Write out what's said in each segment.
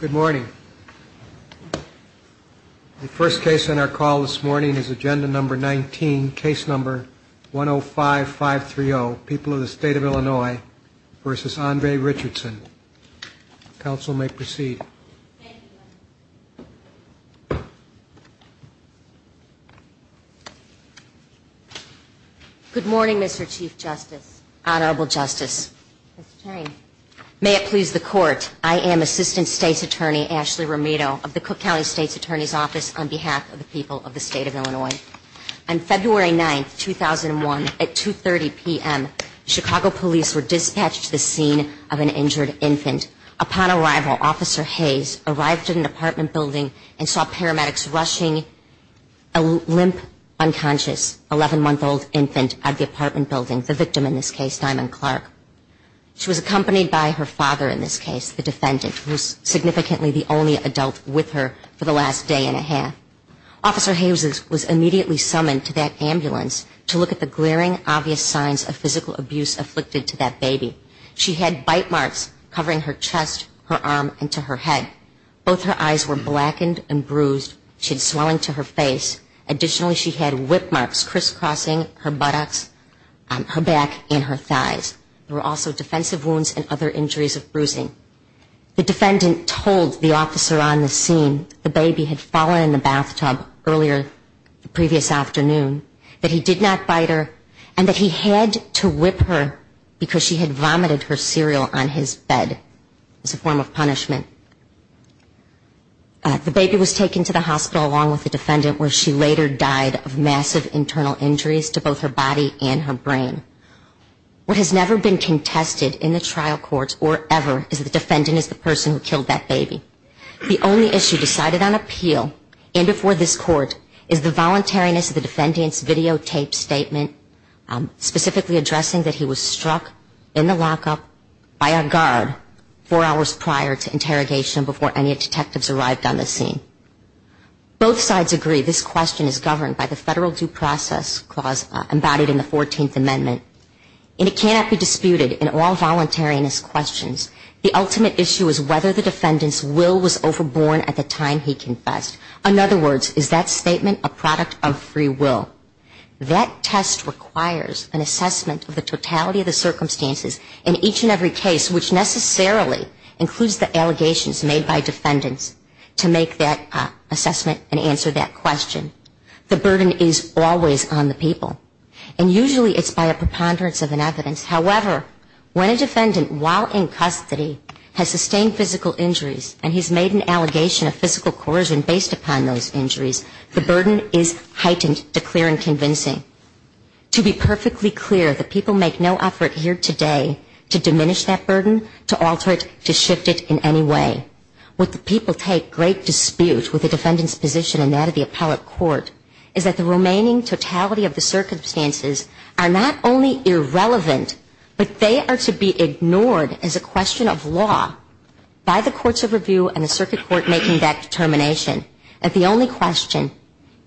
Good morning. The first case on our call this morning is agenda number 19, case number 105-530, People of the State of Illinois v. Andre Richardson. Council may proceed. Good morning, Mr. Chief Justice, Honorable Justice, Mr. Chairman. May it please the Court, I am Assistant State's Attorney Ashley Romito of the Cook County State's Attorney's Office on behalf of the people of the State of Illinois. On February 9, 2001, at 2.30 p.m., Chicago police were dispatched to the scene of an injured infant. Upon arrival, Officer Hayes arrived at an apartment building and saw paramedics rushing a limp, unconscious, 11-month-old infant out of the apartment building, the victim in this case, Diamond Clark. She was accompanied by her father in this case, the defendant, who was significantly the only adult with her for the last day and a half. Officer Hayes was immediately summoned to that ambulance to look at the glaring, obvious signs of physical abuse afflicted to that baby. She had bite marks covering her chest, her arm, and to her head. Both her eyes were blackened and bruised. She had swelling to her face. Additionally, she had whip marks crisscrossing her buttocks, her back, and her thighs. There were also defensive wounds and other injuries of bruising. The defendant told the officer on the scene the baby had fallen in the bathtub earlier the previous afternoon, that he did not bite her, and that he had to whip her because she had vomited her cereal on his bed as a form of punishment. The baby was taken to the hospital along with the defendant where she later died of massive internal injuries to both her body and her brain. What has never been contested in the trial court or ever is that the defendant is the person who killed that baby. The only issue decided on appeal and before this Court is the voluntariness of the defendant's videotaped statement specifically addressing that he was struck in the lockup by a guard four hours prior to interrogation before any detectives arrived on the scene. Both sides agree this question is governed by the Federal Due Process Clause embodied in the 14th Amendment and it cannot be disputed in all voluntariness questions. The ultimate issue is whether the defendant's will was overborne at the time he confessed. In other words, is that statement a product of free will? That test requires an assessment of the totality of the circumstances in each and every case which necessarily includes the allegations made by defendants to make that assessment and answer that question. The burden is always on the people. And usually it's by a preponderance of an evidence. However, when a defendant while in custody has sustained physical injuries and he's made an allegation of physical coercion based upon those injuries, the burden is heightened to clear and convincing. To be perfectly clear, the people make no effort here today to diminish that burden, to alter it, to shift it in any way. What the people take great dispute with the defendant's position in that of the appellate court is that the remaining totality of the circumstances are not only irrelevant, but they are to be ignored as a question of law by the courts of review and the circuit court making that determination that the only question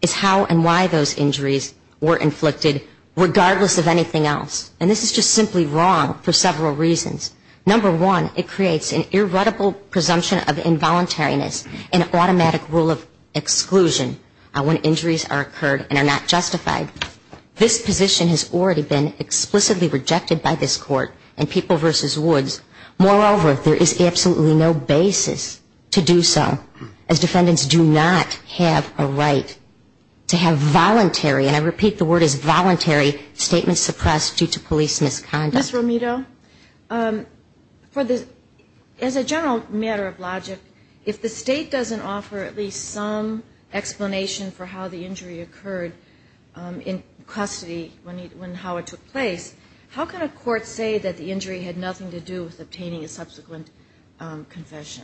is how and why those injuries were inflicted regardless of anything else. And this is just simply wrong for several reasons. Number one, it creates an irreducible presumption of involuntariness, an automatic rule of exclusion when injuries are occurred and are not justified. This position has already been explicitly rejected by this court in People v. Woods. Moreover, there is absolutely no basis to do so, as defendants do not have a right to have voluntary, and I repeat the word is voluntary, statements suppressed due to political reasons. Ms. Romito, as a general matter of logic, if the State doesn't offer at least some explanation for how the injury occurred in custody when Howard took place, how can a court say that the injury had nothing to do with obtaining a subsequent confession? Ms. Romito, as a general matter of logic, if the State doesn't offer at least some explanation for how the injury occurred in custody when Howard took place, how can a court say that the injury had nothing to do with obtaining a subsequent confession?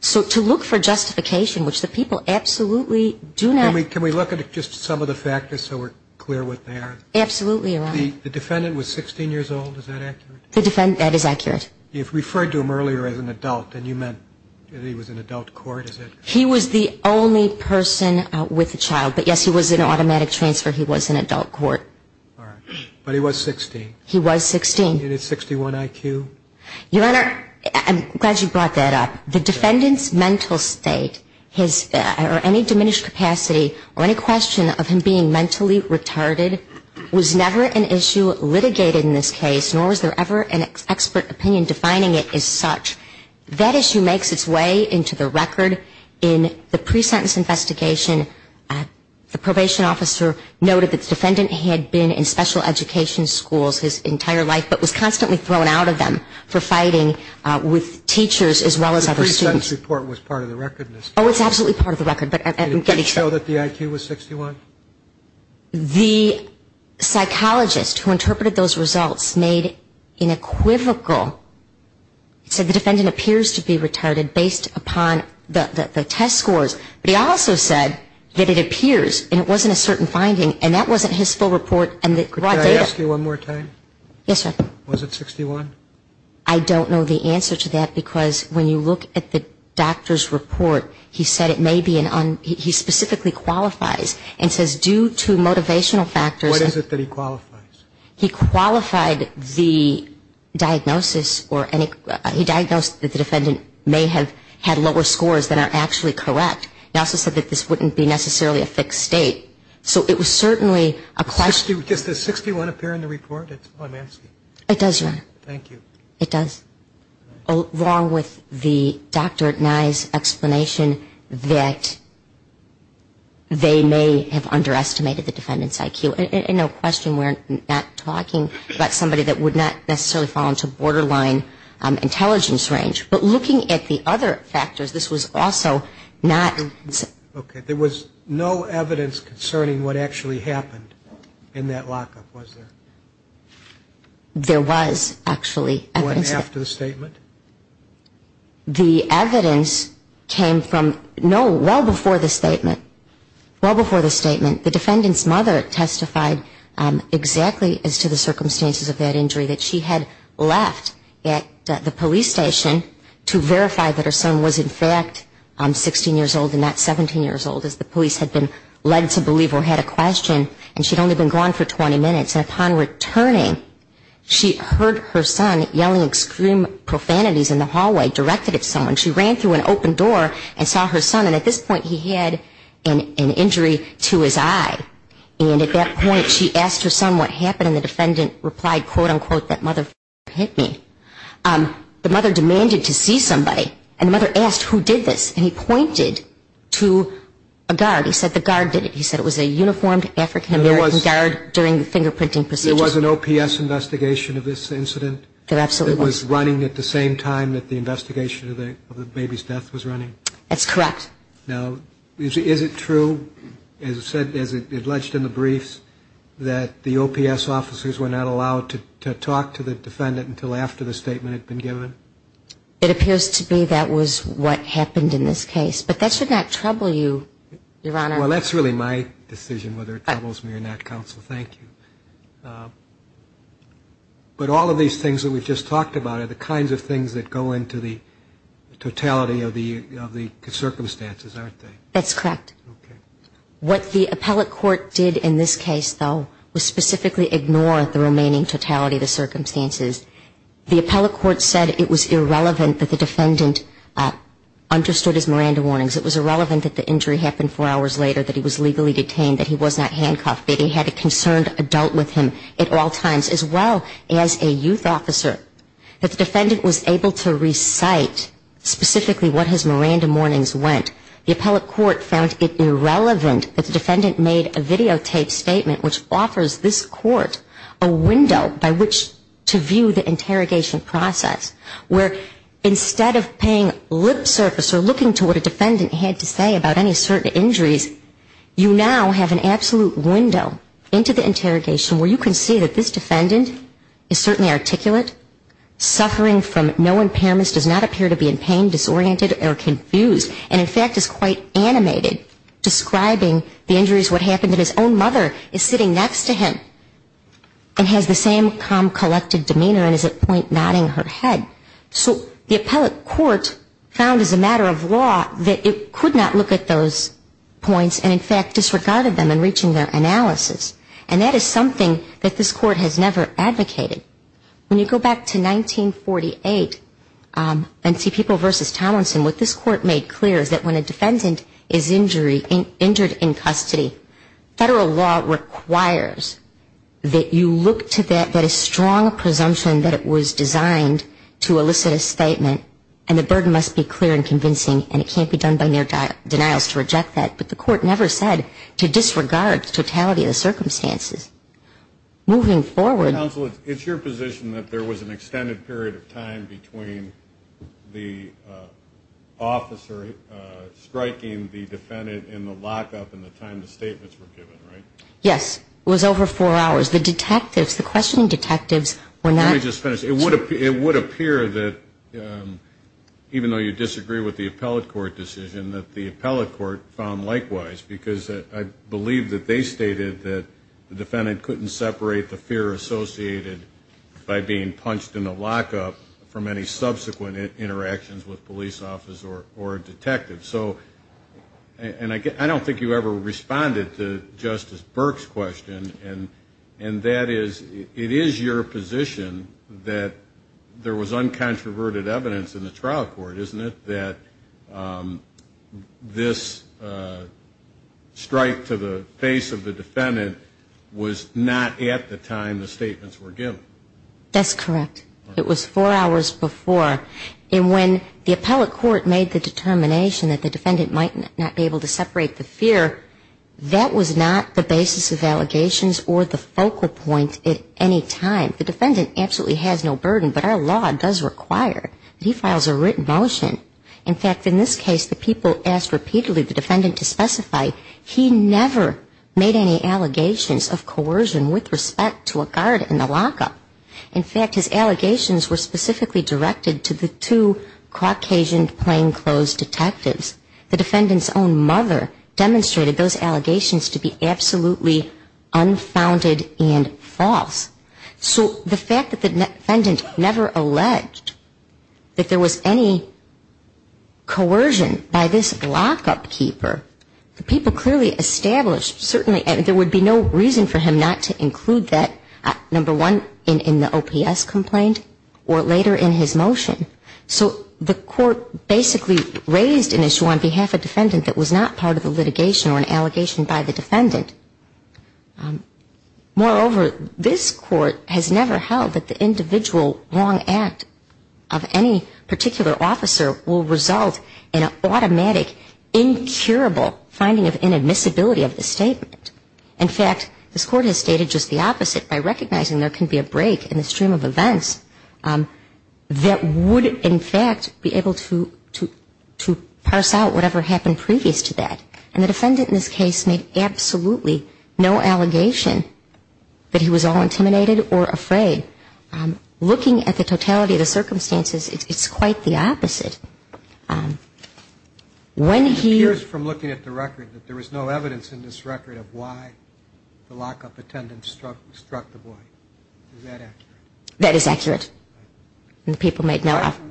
So to look for justification, which the people absolutely do not... Can we look at just some of the factors so we're clear what they are? Absolutely, Your Honor. The defendant was 16 years old, is that accurate? That is accurate. You referred to him earlier as an adult, and you meant that he was in adult court, is that correct? He was the only person with a child, but yes, he was in automatic transfer, he was in adult court. All right, but he was 16. He was 16. And he had 61 IQ? Your Honor, I'm glad you brought that up. The defendant's mental state or any diminished capacity or any question of him being mentally retarded was never an issue litigated in this case, nor was there ever an expert opinion defining it as such. That issue makes its way into the record in the pre-sentence investigation. The probation officer noted that the defendant had been in special education schools his entire life, but was constantly thrown out of them for fighting with teachers as well as other students. So the pre-sentence report was part of the record in this case? Oh, it's absolutely part of the record, but I'm getting... Did it show that the IQ was 61? The psychologist who interpreted those results made an equivocal. He said the defendant appears to be retarded based upon the test scores. But he also said that it appears, and it wasn't a certain finding, and that wasn't his full report and the raw data. Could I ask you one more time? Yes, sir. Was it 61? I don't know the answer to that, because when you look at the doctor's report, he said it may be an un... He specifically qualifies and says due to motivational factors... What is it that he qualifies? He qualified the diagnosis or any... He diagnosed that the defendant may have had lower scores than are actually correct. He also said that this wouldn't be necessarily a fixed state. So it was certainly a question... Does the 61 appear in the report? I'm asking. It does, Your Honor. Thank you. It does, along with the Dr. Nye's explanation that they may have underestimated the defendant's IQ. And no question we're not talking about somebody that would not necessarily fall into borderline intelligence range. But looking at the other factors, this was also not... Okay. There was no evidence concerning what actually happened in that lockup, was there? There was actually evidence. What, after the statement? The evidence came from no... Well before the statement. Well before the statement. The defendant's mother testified exactly as to the circumstances of that injury, that she had left at the police station to verify that her son was in fact 16 years old and not 17 years old, as the police had been led to believe or had a question. And she'd only been gone for 20 minutes. And upon returning, she heard her son yelling extreme profanities in the hallway, directed at someone. She ran through an open door and saw her son. And at this point, he had an injury to his eye. And at that point, she asked her son what happened. And the defendant replied, quote, unquote, that mother hit me. The mother demanded to see somebody. And the mother asked who did this. And he pointed to a guard. He said the guard did it. He said it was a uniformed African-American guard during the fingerprinting procedure. There was an OPS investigation of this incident? There absolutely was. It was running at the same time that the investigation of the baby's death was running? That's correct. Now, is it true, as alleged in the briefs, that the OPS officers were not allowed to talk to the defendant until after the statement had been given? It appears to be that was what happened in this case. But that should not trouble you, Your Honor. Well, that's really my decision whether it troubles me or not, Counsel. Thank you. But all of these things that we've just talked about are the kinds of things that go into the totality of the circumstances, aren't they? That's correct. Okay. What the appellate court did in this case, though, was specifically ignore the remaining totality of the circumstances. The appellate court said it was irrelevant that the defendant understood his Miranda warnings. It was irrelevant that the injury happened four hours later, that he was legally detained, that he was not handcuffed, that he had a concerned adult with him at all times, as well as a youth officer, that the defendant was able to recite specifically what his Miranda warnings went. The appellate court found it irrelevant that the defendant made a videotaped statement which offers this court a window by which to view the interrogation process, where instead of paying lip service or looking to what a defendant had to say about any certain injuries, you now have an absolute window into the interrogation where you can see that this defendant is certainly articulate, suffering from no impairments, does not appear to be in pain, disoriented or confused, and in fact is quite animated, describing the injuries, what happened to his own mother, is sitting next to him and has the same calm, collected demeanor and is at point nodding her head. So the appellate court found as a matter of law that it could not look at those points and in fact disregarded them in reaching their analysis. And that is something that this court has never advocated. When you go back to 1948 and see People v. Tomlinson, what this court made clear is that when a defendant is injured in custody, federal law requires that you look to that, that a strong presumption that it was designed to elicit a statement and the burden must be clear and convincing and it can't be done by mere denials to reject that. But the court never said to disregard the totality of the circumstances. Moving forward... Counsel, it's your position that there was an extended period of time between the officer striking the defendant in the lockup and the time the statements were given, right? Yes. It was over four hours. The detectives, the questioning detectives were not... Let me just finish. It would appear that even though you disagree with the appellate court decision, that the appellate court found likewise because I believe that they stated that the defendant couldn't separate the fear associated by being punched in the lockup from any subsequent interactions with police officers or detectives. So, and I don't think you ever responded to Justice Burke's question and that is, it is your position that there was uncontroverted evidence in the trial court, isn't it? And that this strike to the face of the defendant was not at the time the statements were given. That's correct. It was four hours before. And when the appellate court made the determination that the defendant might not be able to separate the fear, that was not the basis of allegations or the focal point at any time. The defendant absolutely has no burden, but our law does require that he files a written motion. In fact, in this case, the people asked repeatedly the defendant to specify he never made any allegations of coercion with respect to a guard in the lockup. In fact, his allegations were specifically directed to the two Caucasian plainclothes detectives. The defendant's own mother demonstrated those allegations to be absolutely unfounded and false. So the fact that the defendant never alleged that there was any coercion by this lockup keeper, the people clearly established certainly there would be no reason for him not to include that, number one, in the OPS complaint or later in his motion. So the court basically raised an issue on behalf of a defendant that was not part of the litigation or an allegation by the defendant. Moreover, this court has never held that the individual wrong act of any particular officer will result in an automatic, incurable finding of inadmissibility of the statement. In fact, this court has stated just the opposite by recognizing there can be a break in the stream of events that would, in fact, be able to parse out whatever happened previous to that. And the defendant in this case made absolutely no allegation that he was all intimidated or afraid. Looking at the totality of the circumstances, it's quite the opposite. When he used from looking at the record that there was no evidence in this record of why the lockup attendant struck the boy. Is that accurate? That is accurate. And the people made no offer.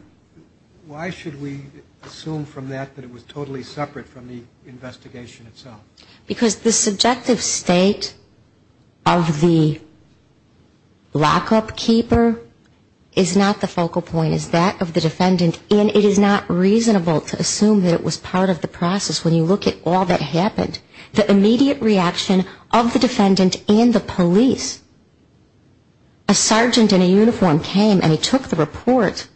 Why should we assume from that that it was totally separate from the investigation itself? Because the subjective state of the lockup keeper is not the focal point. It's that of the defendant, and it is not reasonable to assume that it was part of the process. When you look at all that happened, the immediate reaction of the defendant and the police, a sergeant in a uniform came and he took the report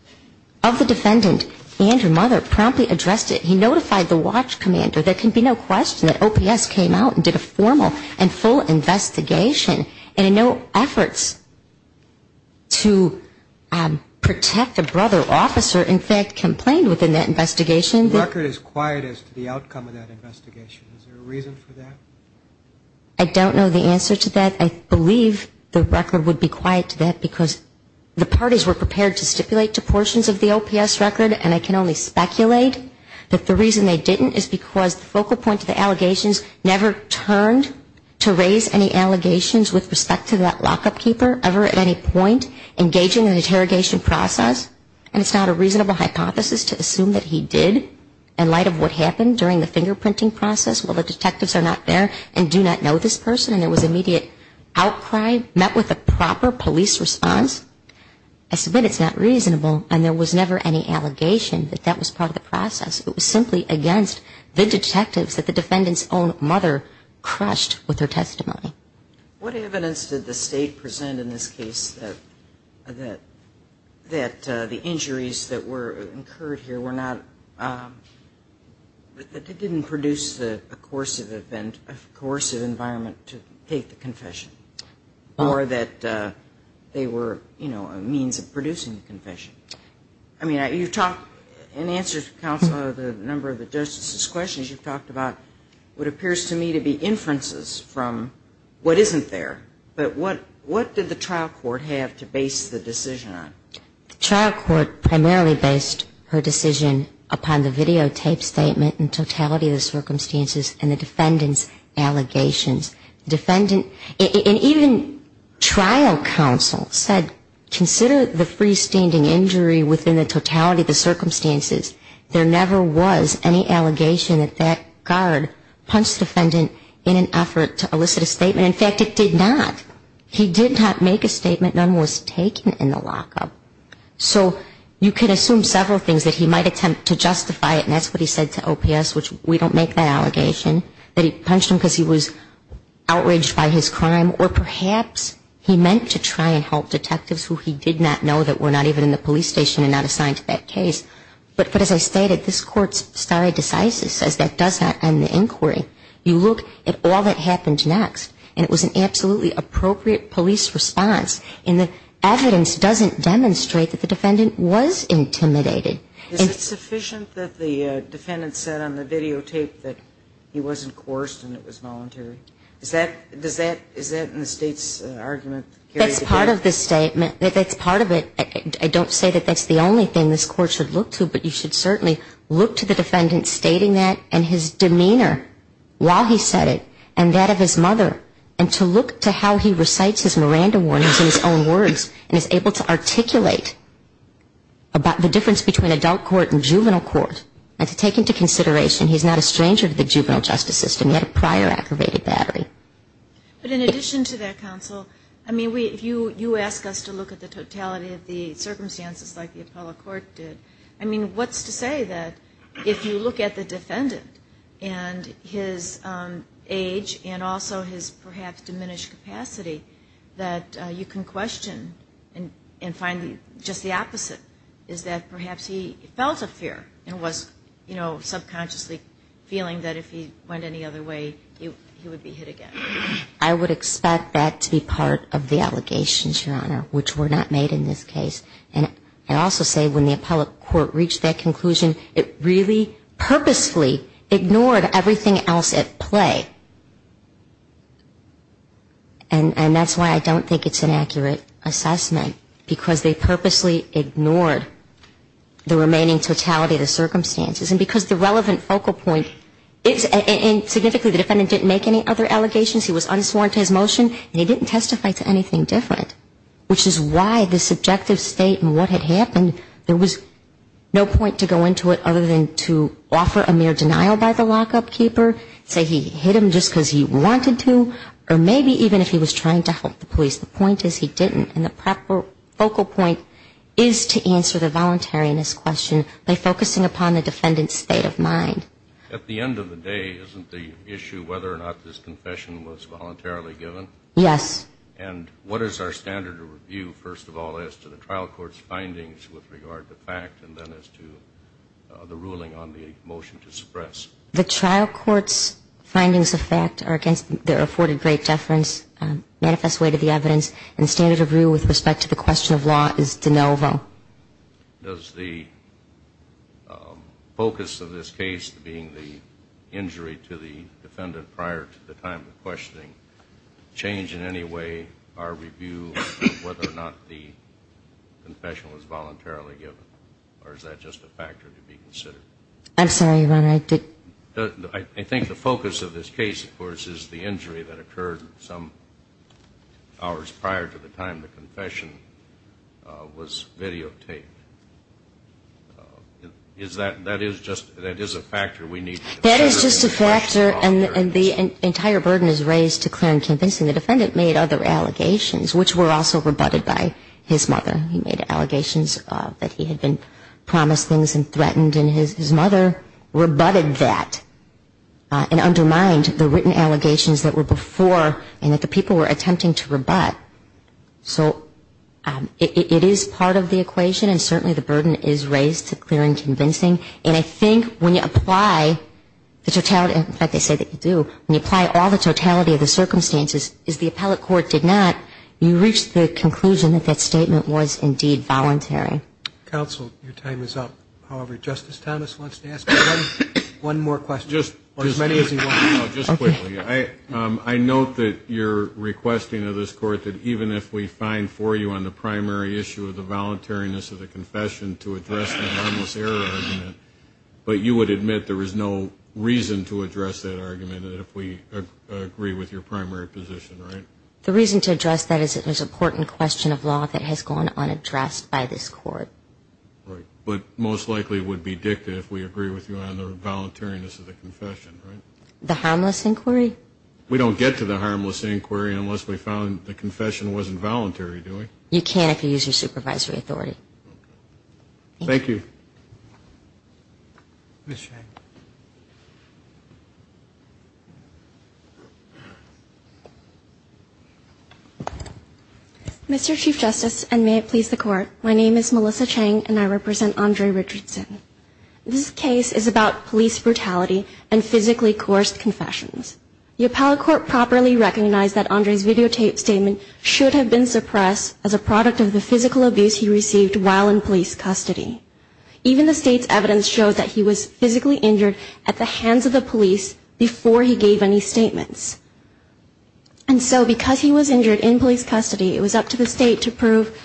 of the defendant and her mother, promptly addressed it. He notified the watch commander. There can be no question that OPS came out and did a formal and full investigation. And in no efforts to protect the brother officer, in fact, complained within that investigation. The record is quiet as to the outcome of that investigation. Is there a reason for that? I don't know the answer to that. I believe the record would be quiet to that, because the parties were prepared to stipulate to portions of the OPS record, and I can only speculate that the reason they didn't is because the focal point of the allegations never turned to raise any concern. In light of what happened during the fingerprinting process, well, the detectives are not there and do not know this person, and there was immediate outcry, met with a proper police response. I submit it's not reasonable, and there was never any allegation that that was part of the process. It was simply against the detectives that the defendant's own mother crushed with her testimony. But that didn't produce a coercive event, a coercive environment to take the confession, or that they were, you know, a means of producing the confession. I mean, you've talked, in answer to Counselor, the number of the justices' questions, you've talked about what appears to me to be inferences from what isn't there. But what did the trial court have to base the decision on? The trial court primarily based her decision upon the videotaped statement and totality of the circumstances and the defendant's allegations. And even trial counsel said, consider the freestanding injury within the totality of the circumstances. There never was any allegation that that guard punched the defendant in an effort to elicit a statement. In fact, it did not. He did not make a statement. None was taken in the lockup. So you can assume several things, that he might attempt to justify it, and that's what he said to OPS, which we don't make that allegation, that he punched him because he was outraged by his crime, or perhaps he meant to try and help detectives who he did not know that were not even in the police station and not assigned to that case. But as I stated, this Court's stare decisis says that does not end the inquiry. You look at all that happened next, and it was an absolutely appropriate police response, and the evidence doesn't demonstrate that the defendant was intimidated. Is it sufficient that the defendant said on the videotape that he wasn't coerced and it was voluntary? Is that in the State's argument? That's part of the statement. That's part of it. I don't say that that's the only thing this Court should look to, but you should certainly look to the defendant stating that and his demeanor while he said it, and that of his mother, and to look to how he recites his Miranda warnings in his own words and is able to articulate the difference between adult court and juvenile court and to take into consideration he's not a stranger to the juvenile justice system. He had a prior aggravated battery. But in addition to that, counsel, I mean, you ask us to look at the totality of the circumstances like the Apollo Court did. I mean, what's to say that if you look at the defendant and his age and also his perhaps diminished capacity that you can question and find just the opposite? Is that perhaps he felt a fear and was, you know, subconsciously feeling that if he went any other way, he would be hit again? I would expect that to be part of the allegations, Your Honor, which were not made in this case. And I also say when the Apollo Court reached that conclusion, it really purposefully ignored everything else at play. And that's why I don't think it's an accurate assessment. Because they purposely ignored the remaining totality of the circumstances. And because the relevant focal point is, and significantly the defendant didn't make any other allegations. He was unsworn to his motion, and he didn't testify to anything different. Which is why the subjective state in what had happened, there was no point to go into it other than to offer a mere denial by the lockup keeper, say he hit him just because he wanted to, or maybe even if he was trying to help the police. The point is he didn't, and the focal point is to answer the voluntariness question by focusing upon the defendant's state of mind. At the end of the day, isn't the issue whether or not this confession was voluntarily given? Yes. And what is our standard of review, first of all, as to the trial court's findings with regard to fact, and then as to the ruling on the motion to suppress? The trial court's findings of fact are against the afforded great deference manifest way to the evidence, and standard of review with respect to the question of law is de novo. Does the focus of this case, being the injury to the defendant prior to the time of questioning, change in any way our review of whether or not the confession was voluntarily given, or is that just a factor to be considered? I'm sorry, Your Honor. I think the focus of this case, of course, is the injury that occurred some hours prior to the time the confession was videotaped. Is that, that is just, that is a factor we need to consider. That is just a factor, and the entire burden is raised to clear and convincing. The defendant made other allegations, which were also rebutted by his mother. He made allegations that he had been promised things and threatened, and his mother rebutted that and undermined the written allegations that were before and that the people were attempting to rebut. So it is part of the equation, and certainly the burden is raised to clear and convincing. And I think when you apply the totality, in fact, they say that you do, when you apply all the totality of the circumstances, is the appellate court did not, you reach the conclusion that that statement was indeed voluntary. Counsel, your time is up. However, Justice Thomas wants to ask one more question. Just as many as he wants. Just quickly. I note that your requesting of this Court that even if we find for you on the primary issue of the voluntariness of the confession to address the harmless error argument, but you would admit there is no reason to address that argument if we agree with your primary position, right? The reason to address that is it was an important question of law that has gone unaddressed by this Court. Right. But most likely it would be dicta if we agree with you on the voluntariness of the confession, right? The harmless inquiry? We don't get to the harmless inquiry unless we found the confession wasn't voluntary, do we? You can if you use your supervisory authority. Thank you. Ms. Chang. Mr. Chief Justice, and may it please the Court, my name is Melissa Chang and I represent Andre Richardson. This case is about police brutality and physically coerced confessions. The appellate court properly recognized that Andre's videotape statement should have been suppressed as a product of the physical abuse he received while in police custody. Even the State's evidence showed that he was physically injured at the hands of the police before he gave any statements. And so because he was injured in police custody, it was up to the State to prove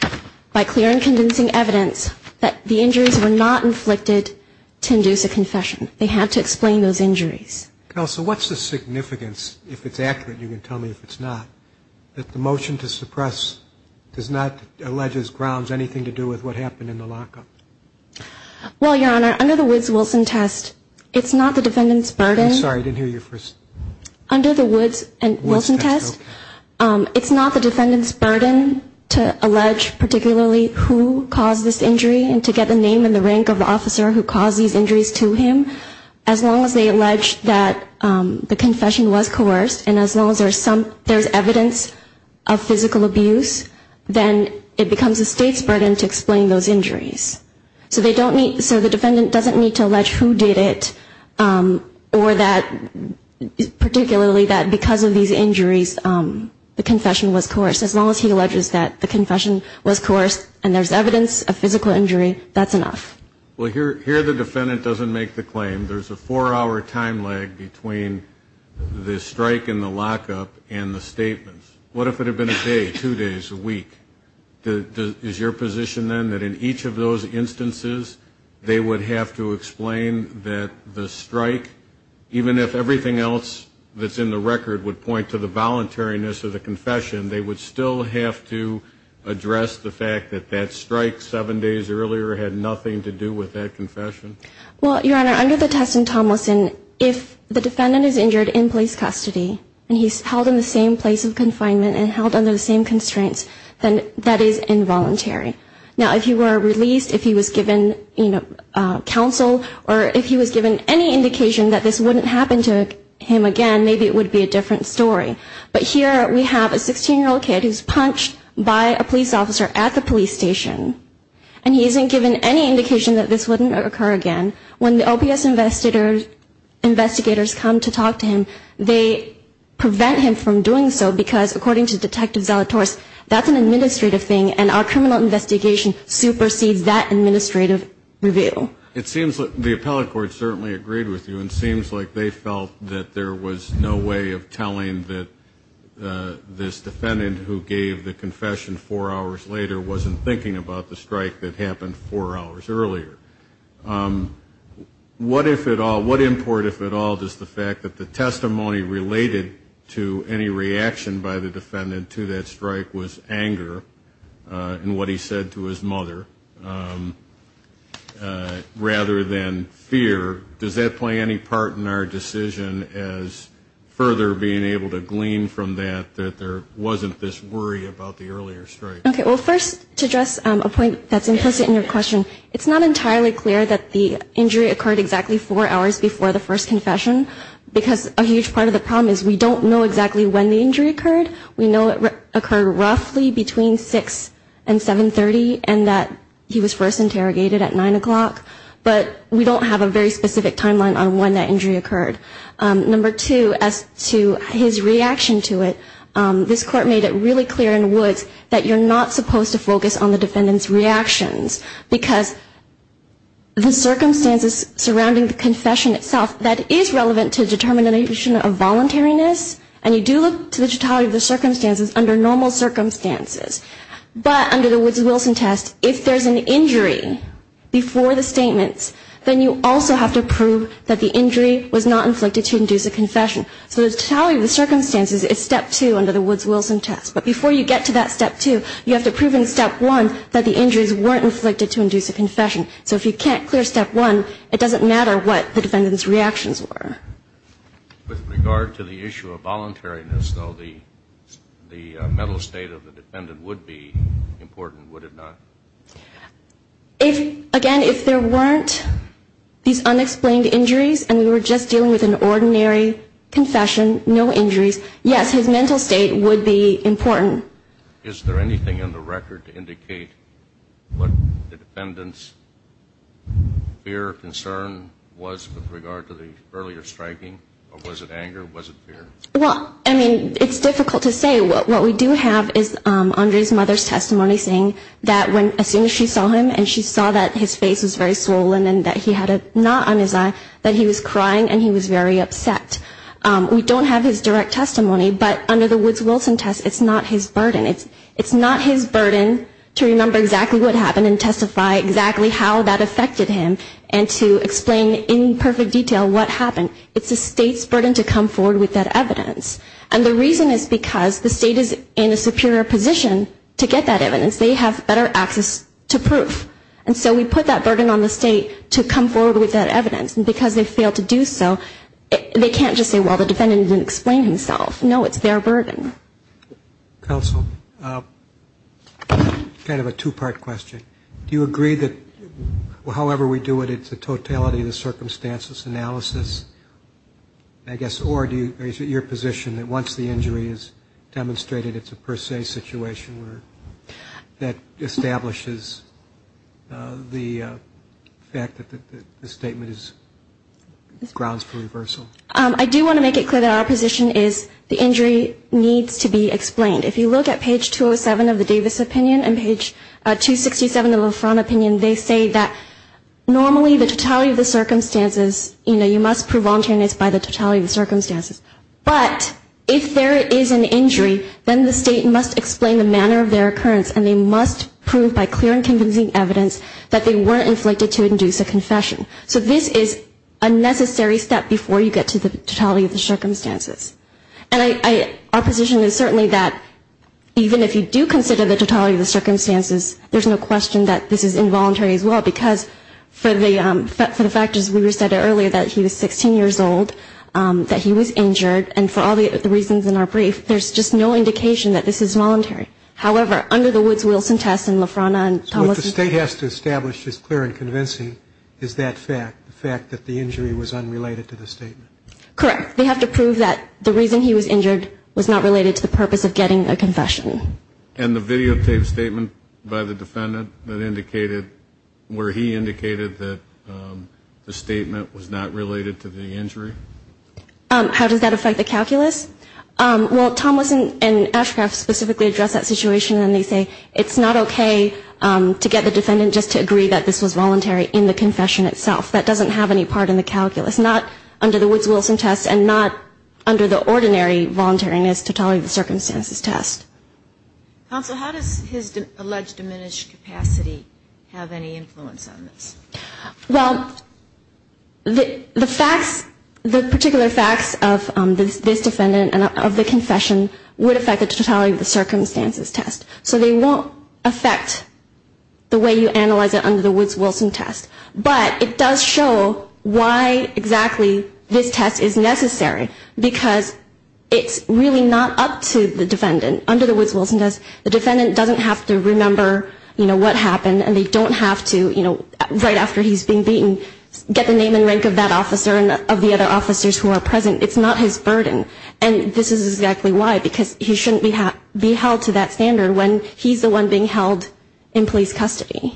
by clear and convincing evidence that the injuries were not inflicted to induce a confession. They had to explain those injuries. Counsel, what's the significance, if it's accurate, you can tell me if it's not, that the motion to suppress does not allege his grounds anything to do with what happened in the lockup? Well, Your Honor, under the Woods-Wilson test, it's not the defendant's burden. I'm sorry, I didn't hear you first. Under the Woods-Wilson test, it's not the defendant's burden to allege particularly who caused this injury and to get the name and the rank of the officer who caused these injuries to him, as long as they allege that the confession was coerced and as long as there's evidence of physical abuse, then it becomes the State's burden to explain those injuries. So they don't need, so the defendant doesn't need to allege who did it or that particularly that because of these injuries, the confession was coerced. As long as he alleges that the confession was coerced and there's evidence of physical injury, that's enough. Well, here the defendant doesn't make the claim. There's a four-hour time lag between the strike and the lockup and the statements. What if it had been a day, two days, a week? Is your position then that in each of those instances, they would have to explain that the strike, even if everything else that's in the case, would still have to address the fact that that strike seven days earlier had nothing to do with that confession? Well, Your Honor, under the test in Tomlinson, if the defendant is injured in police custody and he's held in the same place of confinement and held under the same constraints, then that is involuntary. Now, if he were released, if he was given counsel or if he was given any indication that this wouldn't happen to him again, maybe it would be a different story. But here we have a 16-year-old kid who's punched by a police officer at the police station, and he isn't given any indication that this wouldn't occur again. When the OPS investigators come to talk to him, they prevent him from doing so, because according to Detective Zalatorse, that's an administrative thing, and our criminal investigation supersedes that administrative review. It seems that the appellate court certainly agreed with you, and it seems like they felt that there was no way of telling that this defendant who gave the confession four hours later wasn't thinking about the strike that happened four hours earlier. What if at all, what import if at all, does the fact that the testimony related to any reaction by the defendant to that strike was anger in what he said to his mother? Rather than fear, does that play any part in our decision as further being able to glean from that that there wasn't this worry about the earlier strike? Okay, well, first, to address a point that's implicit in your question, it's not entirely clear that the injury occurred exactly four hours before the first confession, because a huge part of the problem is we don't know exactly when the injury occurred. We know it occurred roughly between 6 and 7 30, and that he was first interrogated at 9 o'clock. But we don't have a very specific timeline on when that injury occurred. Number two, as to his reaction to it, this court made it really clear in Woods that you're not supposed to focus on the defendant's reactions, because the circumstances surrounding the confession itself, that is relevant to the determination of voluntariness, and you do look to the totality of the circumstances under normal circumstances. But under the Woods-Wilson test, if there's an injury before the statements, then you also have to prove that the injury was not inflicted to induce a confession. So the totality of the circumstances is step two under the Woods-Wilson test. But before you get to that step two, you have to prove in step one that the injuries weren't inflicted to induce a confession. So if you can't clear step one, it doesn't matter what the defendant's reactions were. With regard to the issue of voluntariness, though, the mental state of the defendant would be important, would it not? Again, if there weren't these unexplained injuries, and we were just dealing with an ordinary confession, no injuries, yes, his mental state would be important. Is there anything in the record to indicate what the defendant's fear or concern was with regard to the earlier statements? Was it anger, was it fear? Well, I mean, it's difficult to say. What we do have is Andre's mother's testimony saying that as soon as she saw him and she saw that his face was very swollen and that he had a knot on his eye, that he was crying and he was very upset. We don't have his direct testimony, but under the Woods-Wilson test, it's not his burden. It's the state's burden to remember exactly what happened and testify exactly how that affected him and to explain in perfect detail what happened. It's the state's burden to come forward with that evidence. And the reason is because the state is in a superior position to get that evidence. They have better access to proof. And so we put that burden on the state to come forward with that evidence. And because they failed to do so, they can't just say, well, the defendant didn't explain himself. No, it's their burden. Counsel, kind of a two-part question. Do you agree that however we do it, it's the totality of the circumstances analysis, I guess, or is it your position that once the injury is demonstrated, it's a per se situation that establishes the fact that the statement is grounds for reversal? I do want to make it clear that our position is the injury needs to be explained. If you look at page 207 of the Davis opinion and page 267 of the LaFront opinion, they say that normally the totality of the circumstances, you know, you must prove voluntariness by the totality of the circumstances. But if there is an injury, then the state must explain the manner of their occurrence and they must prove by clear and convincing evidence that they weren't inflicted to induce a confession. So this is a necessary step before you get to the totality of the circumstances. And our position is certainly that even if you do consider the totality of the circumstances, there's no question that this is involuntary as well, because for the factors we said earlier, that he was 16 years old, that he was injured, that he was injured, and for all the reasons in our brief, there's just no indication that this is voluntary. However, under the Woods-Wilson test and LaFronta and Thomas... What the state has to establish as clear and convincing is that fact, the fact that the injury was unrelated to the statement. Correct. They have to prove that the reason he was injured was not related to the purpose of getting a confession. And the videotaped statement by the defendant that indicated where he indicated that the statement was not related to the injury? How does that affect the calculus? Well, Thomas and Ashcroft specifically address that situation and they say it's not okay to get the defendant just to agree that this was voluntary in the confession itself. That doesn't have any part in the calculus. Not under the Woods-Wilson test and not under the ordinary voluntariness totality of the circumstances test. Counsel, how does his alleged diminished capacity have any influence on this? Well, the facts, the particular facts of this defendant and of the confession would affect the totality of the circumstances test. So they won't affect the way you analyze it under the Woods-Wilson test. But it does show why exactly this test is necessary, because it's really not up to the defendant. Under the Woods-Wilson test, the defendant doesn't have to remember, you know, what happened and they don't have to, you know, right after he's being beaten, get the name and rank of that officer and of the other officers who are present. It's not his burden. And this is exactly why, because he shouldn't be held to that standard when he's the one being held in police custody.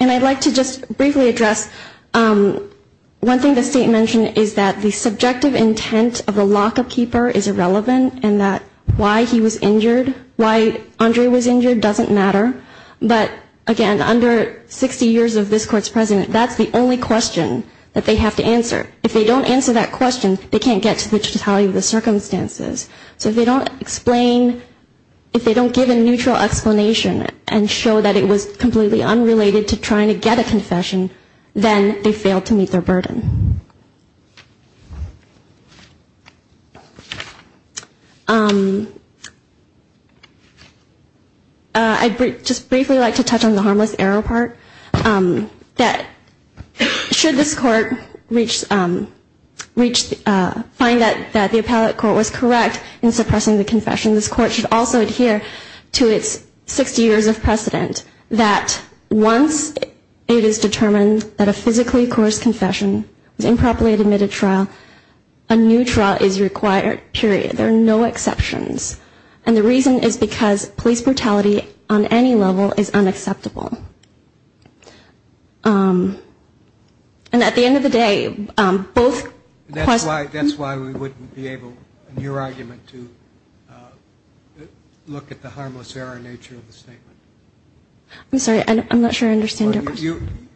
And I'd like to just briefly address one thing the state mentioned is that the subjective intent of the lockup keeper is irrelevant and that why he was injured, why Andre was injured doesn't matter. But again, under 60 years of this court's president, that's the only question that they have to answer. If they don't answer that question, they can't get to the totality of the circumstances. So if they don't explain, if they don't give a neutral explanation and show that it was completely unrelated to trying to get a confession, then they failed to meet their burden. I'd just briefly like to touch on the harmless error part. That should this court reach, find that the appellate court was correct in suppressing the confession, this court should also adhere to its 60 years of precedent that once it is determined that a physically coerced confession was improperly admitted trial, a new trial is required, period. There are no exceptions. And the reason is because police brutality on any level is unacceptable. And at the end of the day, both... That's why we wouldn't be able, in your argument, to look at the harmless error nature of the statement. I'm sorry, I'm not sure I understand your question.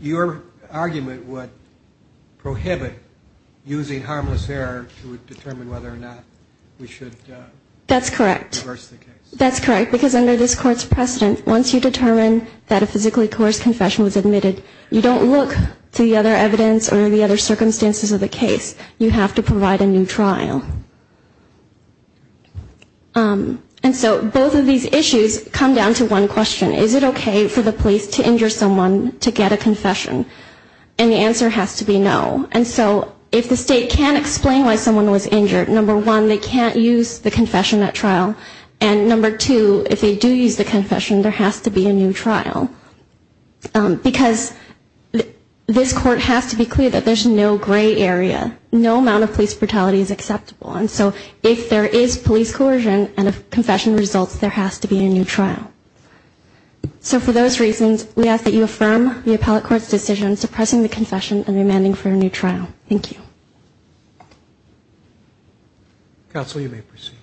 Your argument would prohibit using harmless error to determine whether or not we should reverse the case. That's correct, because under this court's precedent, once you determine that a physically coerced confession was admitted, you don't look to the other evidence or the other circumstances of the case. You have to provide a new trial. And so both of these issues come down to one question. Is it okay for the police to injure someone to get a confession? And the answer has to be no. And so if the state can't explain why someone was injured, number one, they can't use the confession at trial. And number two, if they do use the confession, there has to be a new trial. Because this court has to be clear that there's no gray area. No amount of police brutality is acceptable. And so if there is police coercion and a confession results, there has to be a new trial. So for those reasons, we ask that you affirm the appellate court's decision suppressing the confession and demanding for a new trial. Thank you. Counsel, you may proceed.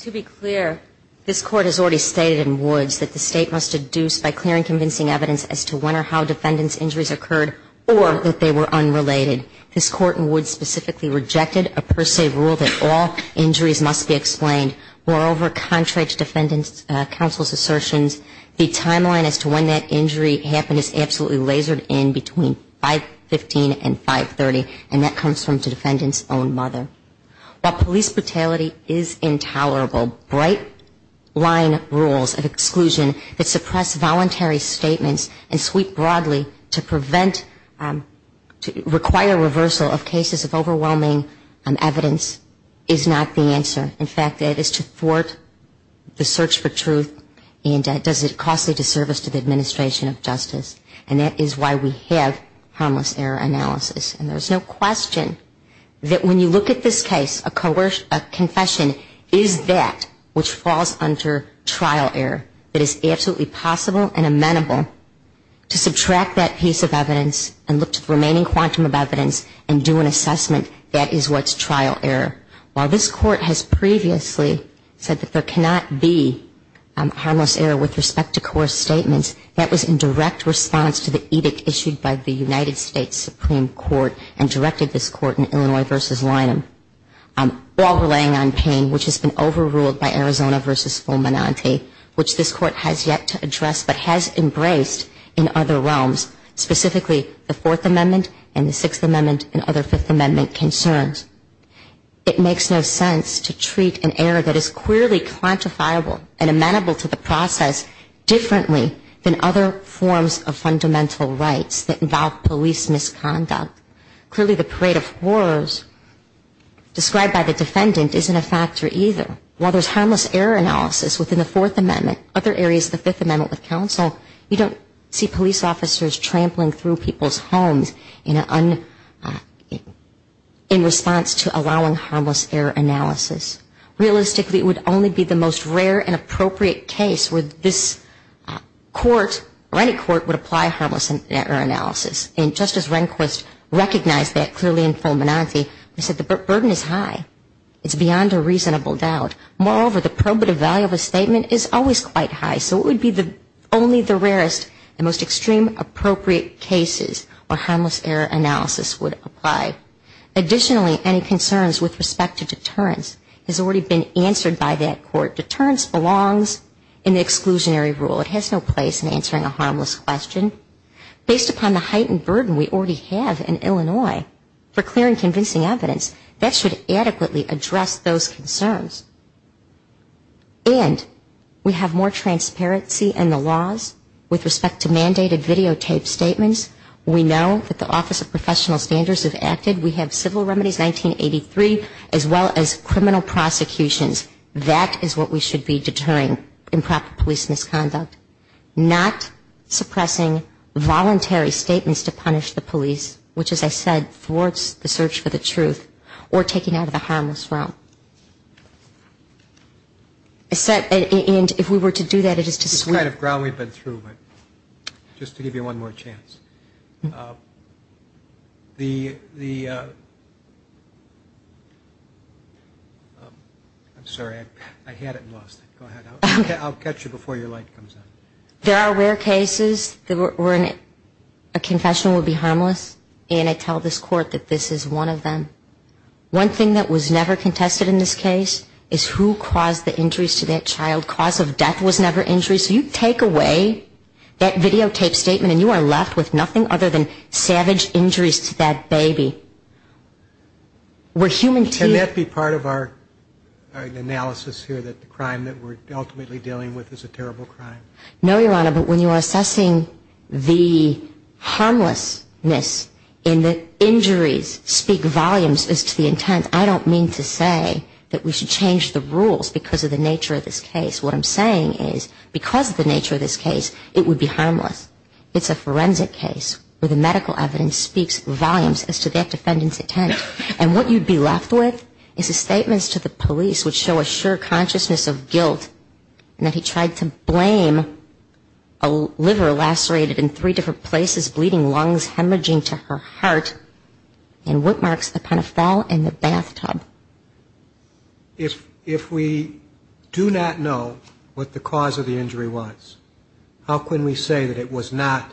To be clear, this court has already stated in Woods that the state must deduce by clearing convincing evidence as to when or how defendants' injuries occurred or that they were unrelated. This court in Woods specifically rejected a per se rule that all injuries must be explained. Moreover, contrary to defendant counsel's assertions, the timeline as to when that injury happened is absolutely lasered in between 515 and 530, and that comes from the defendant's own mother. While police brutality is intolerable, bright line rules of exclusion that suppress voluntary statements and sweep broadly to prevent, require reversal of cases of overwhelming evidence is not the answer. In fact, it is to thwart the search for truth and does it costly disservice to the administration of justice. And that is why we have harmless error analysis. And there's no question that when you look at this case, a confession is that which falls under trial error. It is absolutely possible and amenable to subtract that piece of evidence and look to the remaining quantum of evidence and do an assessment that is what's trial error. While this court has previously said that there cannot be harmless error with respect to coerced statements, that was in direct response to the edict issued by the United States Supreme Court and directed this court in Illinois v. Lynham, all relying on pain, which has been overruled by Arizona v. Fulminante, which this court has yet to address but has embraced in other realms, specifically the Fourth Amendment and the Sixth Amendment and other Fifth Amendment concerns. It makes no sense to treat an error that is clearly quantifiable and amenable to the process differently than other forms of fundamental rights that involve police misconduct. Clearly the parade of horrors described by the defendant isn't a factor either. While there's harmless error analysis within the Fourth Amendment, other areas of the Fifth Amendment with counsel, you don't see police officers trampling through people's homes in response to allowing harmless error analysis. Realistically, it would only be the most rare and appropriate case where this court or any court would apply harmless error analysis. And just as Rehnquist recognized that clearly in Fulminante, he said the burden is high. It's beyond a reasonable doubt. Moreover, the probative value of a statement is always quite high, so it would be only the rarest and most extreme appropriate cases where harmless error analysis would apply. Additionally, any concerns with respect to deterrence has already been answered by that court. Deterrence belongs in the exclusionary rule. It has no place in answering a harmless question. Based upon the heightened burden we already have in Illinois for clearing convincing evidence, that should adequately address those concerns. And we have more transparency in the laws with respect to mandated videotaped statements. We know that the Office of Professional Standards have acted. We have civil remedies, 1983, as well as criminal prosecutions. That is what we should be deterring, improper police misconduct. Not suppressing voluntary statements to punish the police, which, as I said, thwarts the search for the truth. Or taking out of the harmless realm. And if we were to do that, it is to sort of ground we've been through. Just to give you one more chance. I'm sorry, I had it and lost it. I'll catch you before your light comes on. There are rare cases where a confession would be harmless, and I tell this court that this is one of them. One thing that was never contested in this case is who caused the injuries to that child. Cause of death was never injuries. So you take away that videotaped statement and you are left with nothing other than savage injuries to that baby. Can that be part of our analysis here, that the crime that we're ultimately dealing with is a terrible crime? No, Your Honor, but when you are assessing the harmlessness in the injuries, speak volumes. As to the intent, I don't mean to say that we should change the rules because of the nature of this case. What I'm saying is because of the nature of this case, it would be harmless. It's a forensic case where the medical evidence speaks volumes as to that defendant's intent. And what you'd be left with is the statements to the police which show a sure consciousness of guilt, and that he tried to blame a liver lacerated in three different places, bleeding lungs, hemorrhaging to her heart, and what marks upon a fall in the bathtub. If we do not know what the cause of the injury was, how can we say that it was not,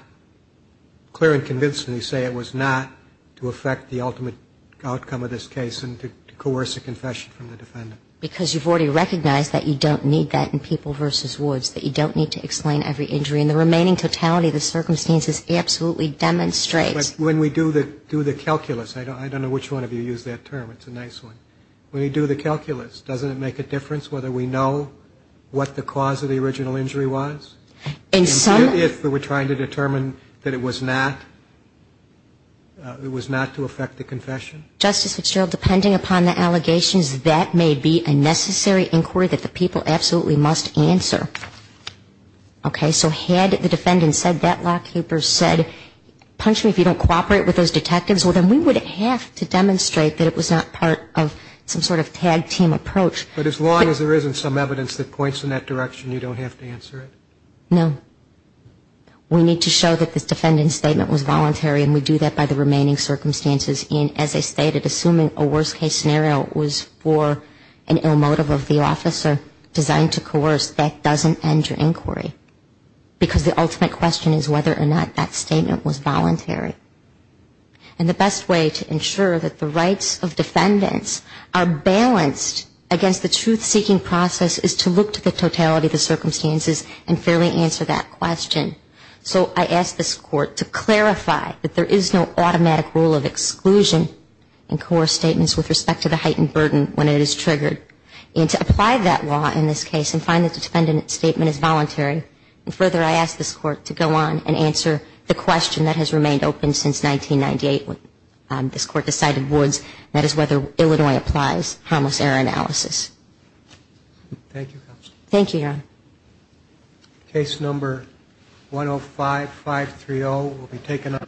clear and convincingly say it was not to affect the ultimate outcome of this case and to coerce a confession from the defendant? Because you've already recognized that you don't need that in People v. Woods, that you don't need to explain every injury. And the remaining totality of the circumstances absolutely demonstrates. But when we do the calculus, I don't know which one of you used that term, it's a nice one. When we do the calculus, doesn't it make a difference whether we know what the cause of the original injury was? And if we're trying to determine that it was not, it was not to affect the confession? Justice Fitzgerald, depending upon the allegations, that may be a necessary inquiry that the people absolutely must answer. Okay. So had the defendant said that, lawkeepers said, punch me if you don't cooperate with those detectives, well, then we would have to demonstrate that it was not part of some sort of tag team approach. But as long as there isn't some evidence that points in that direction, you don't have to answer it? No. We need to show that this defendant's statement was voluntary, and we do that by the remaining circumstances. And as I stated, assuming a worst case scenario was for an ill motive of the officer designed to coerce, that doesn't end your inquiry, because the ultimate question is whether or not that statement was voluntary. And the best way to ensure that the rights of defendants are balanced against the truth-seeking process is to look to the totality of the circumstances and fairly answer that question. So I ask this Court to clarify that there is no automatic rule of exclusion in coerce statements with respect to the heightened burden when it is triggered, and to apply that law in this case and find that the defendant's statement is voluntary. And further, I ask this Court to go on and answer the question that has remained open since 1998, when this Court decided Woods, and that is whether Illinois applies harmless error analysis. Thank you, Counsel. Thank you, Your Honor.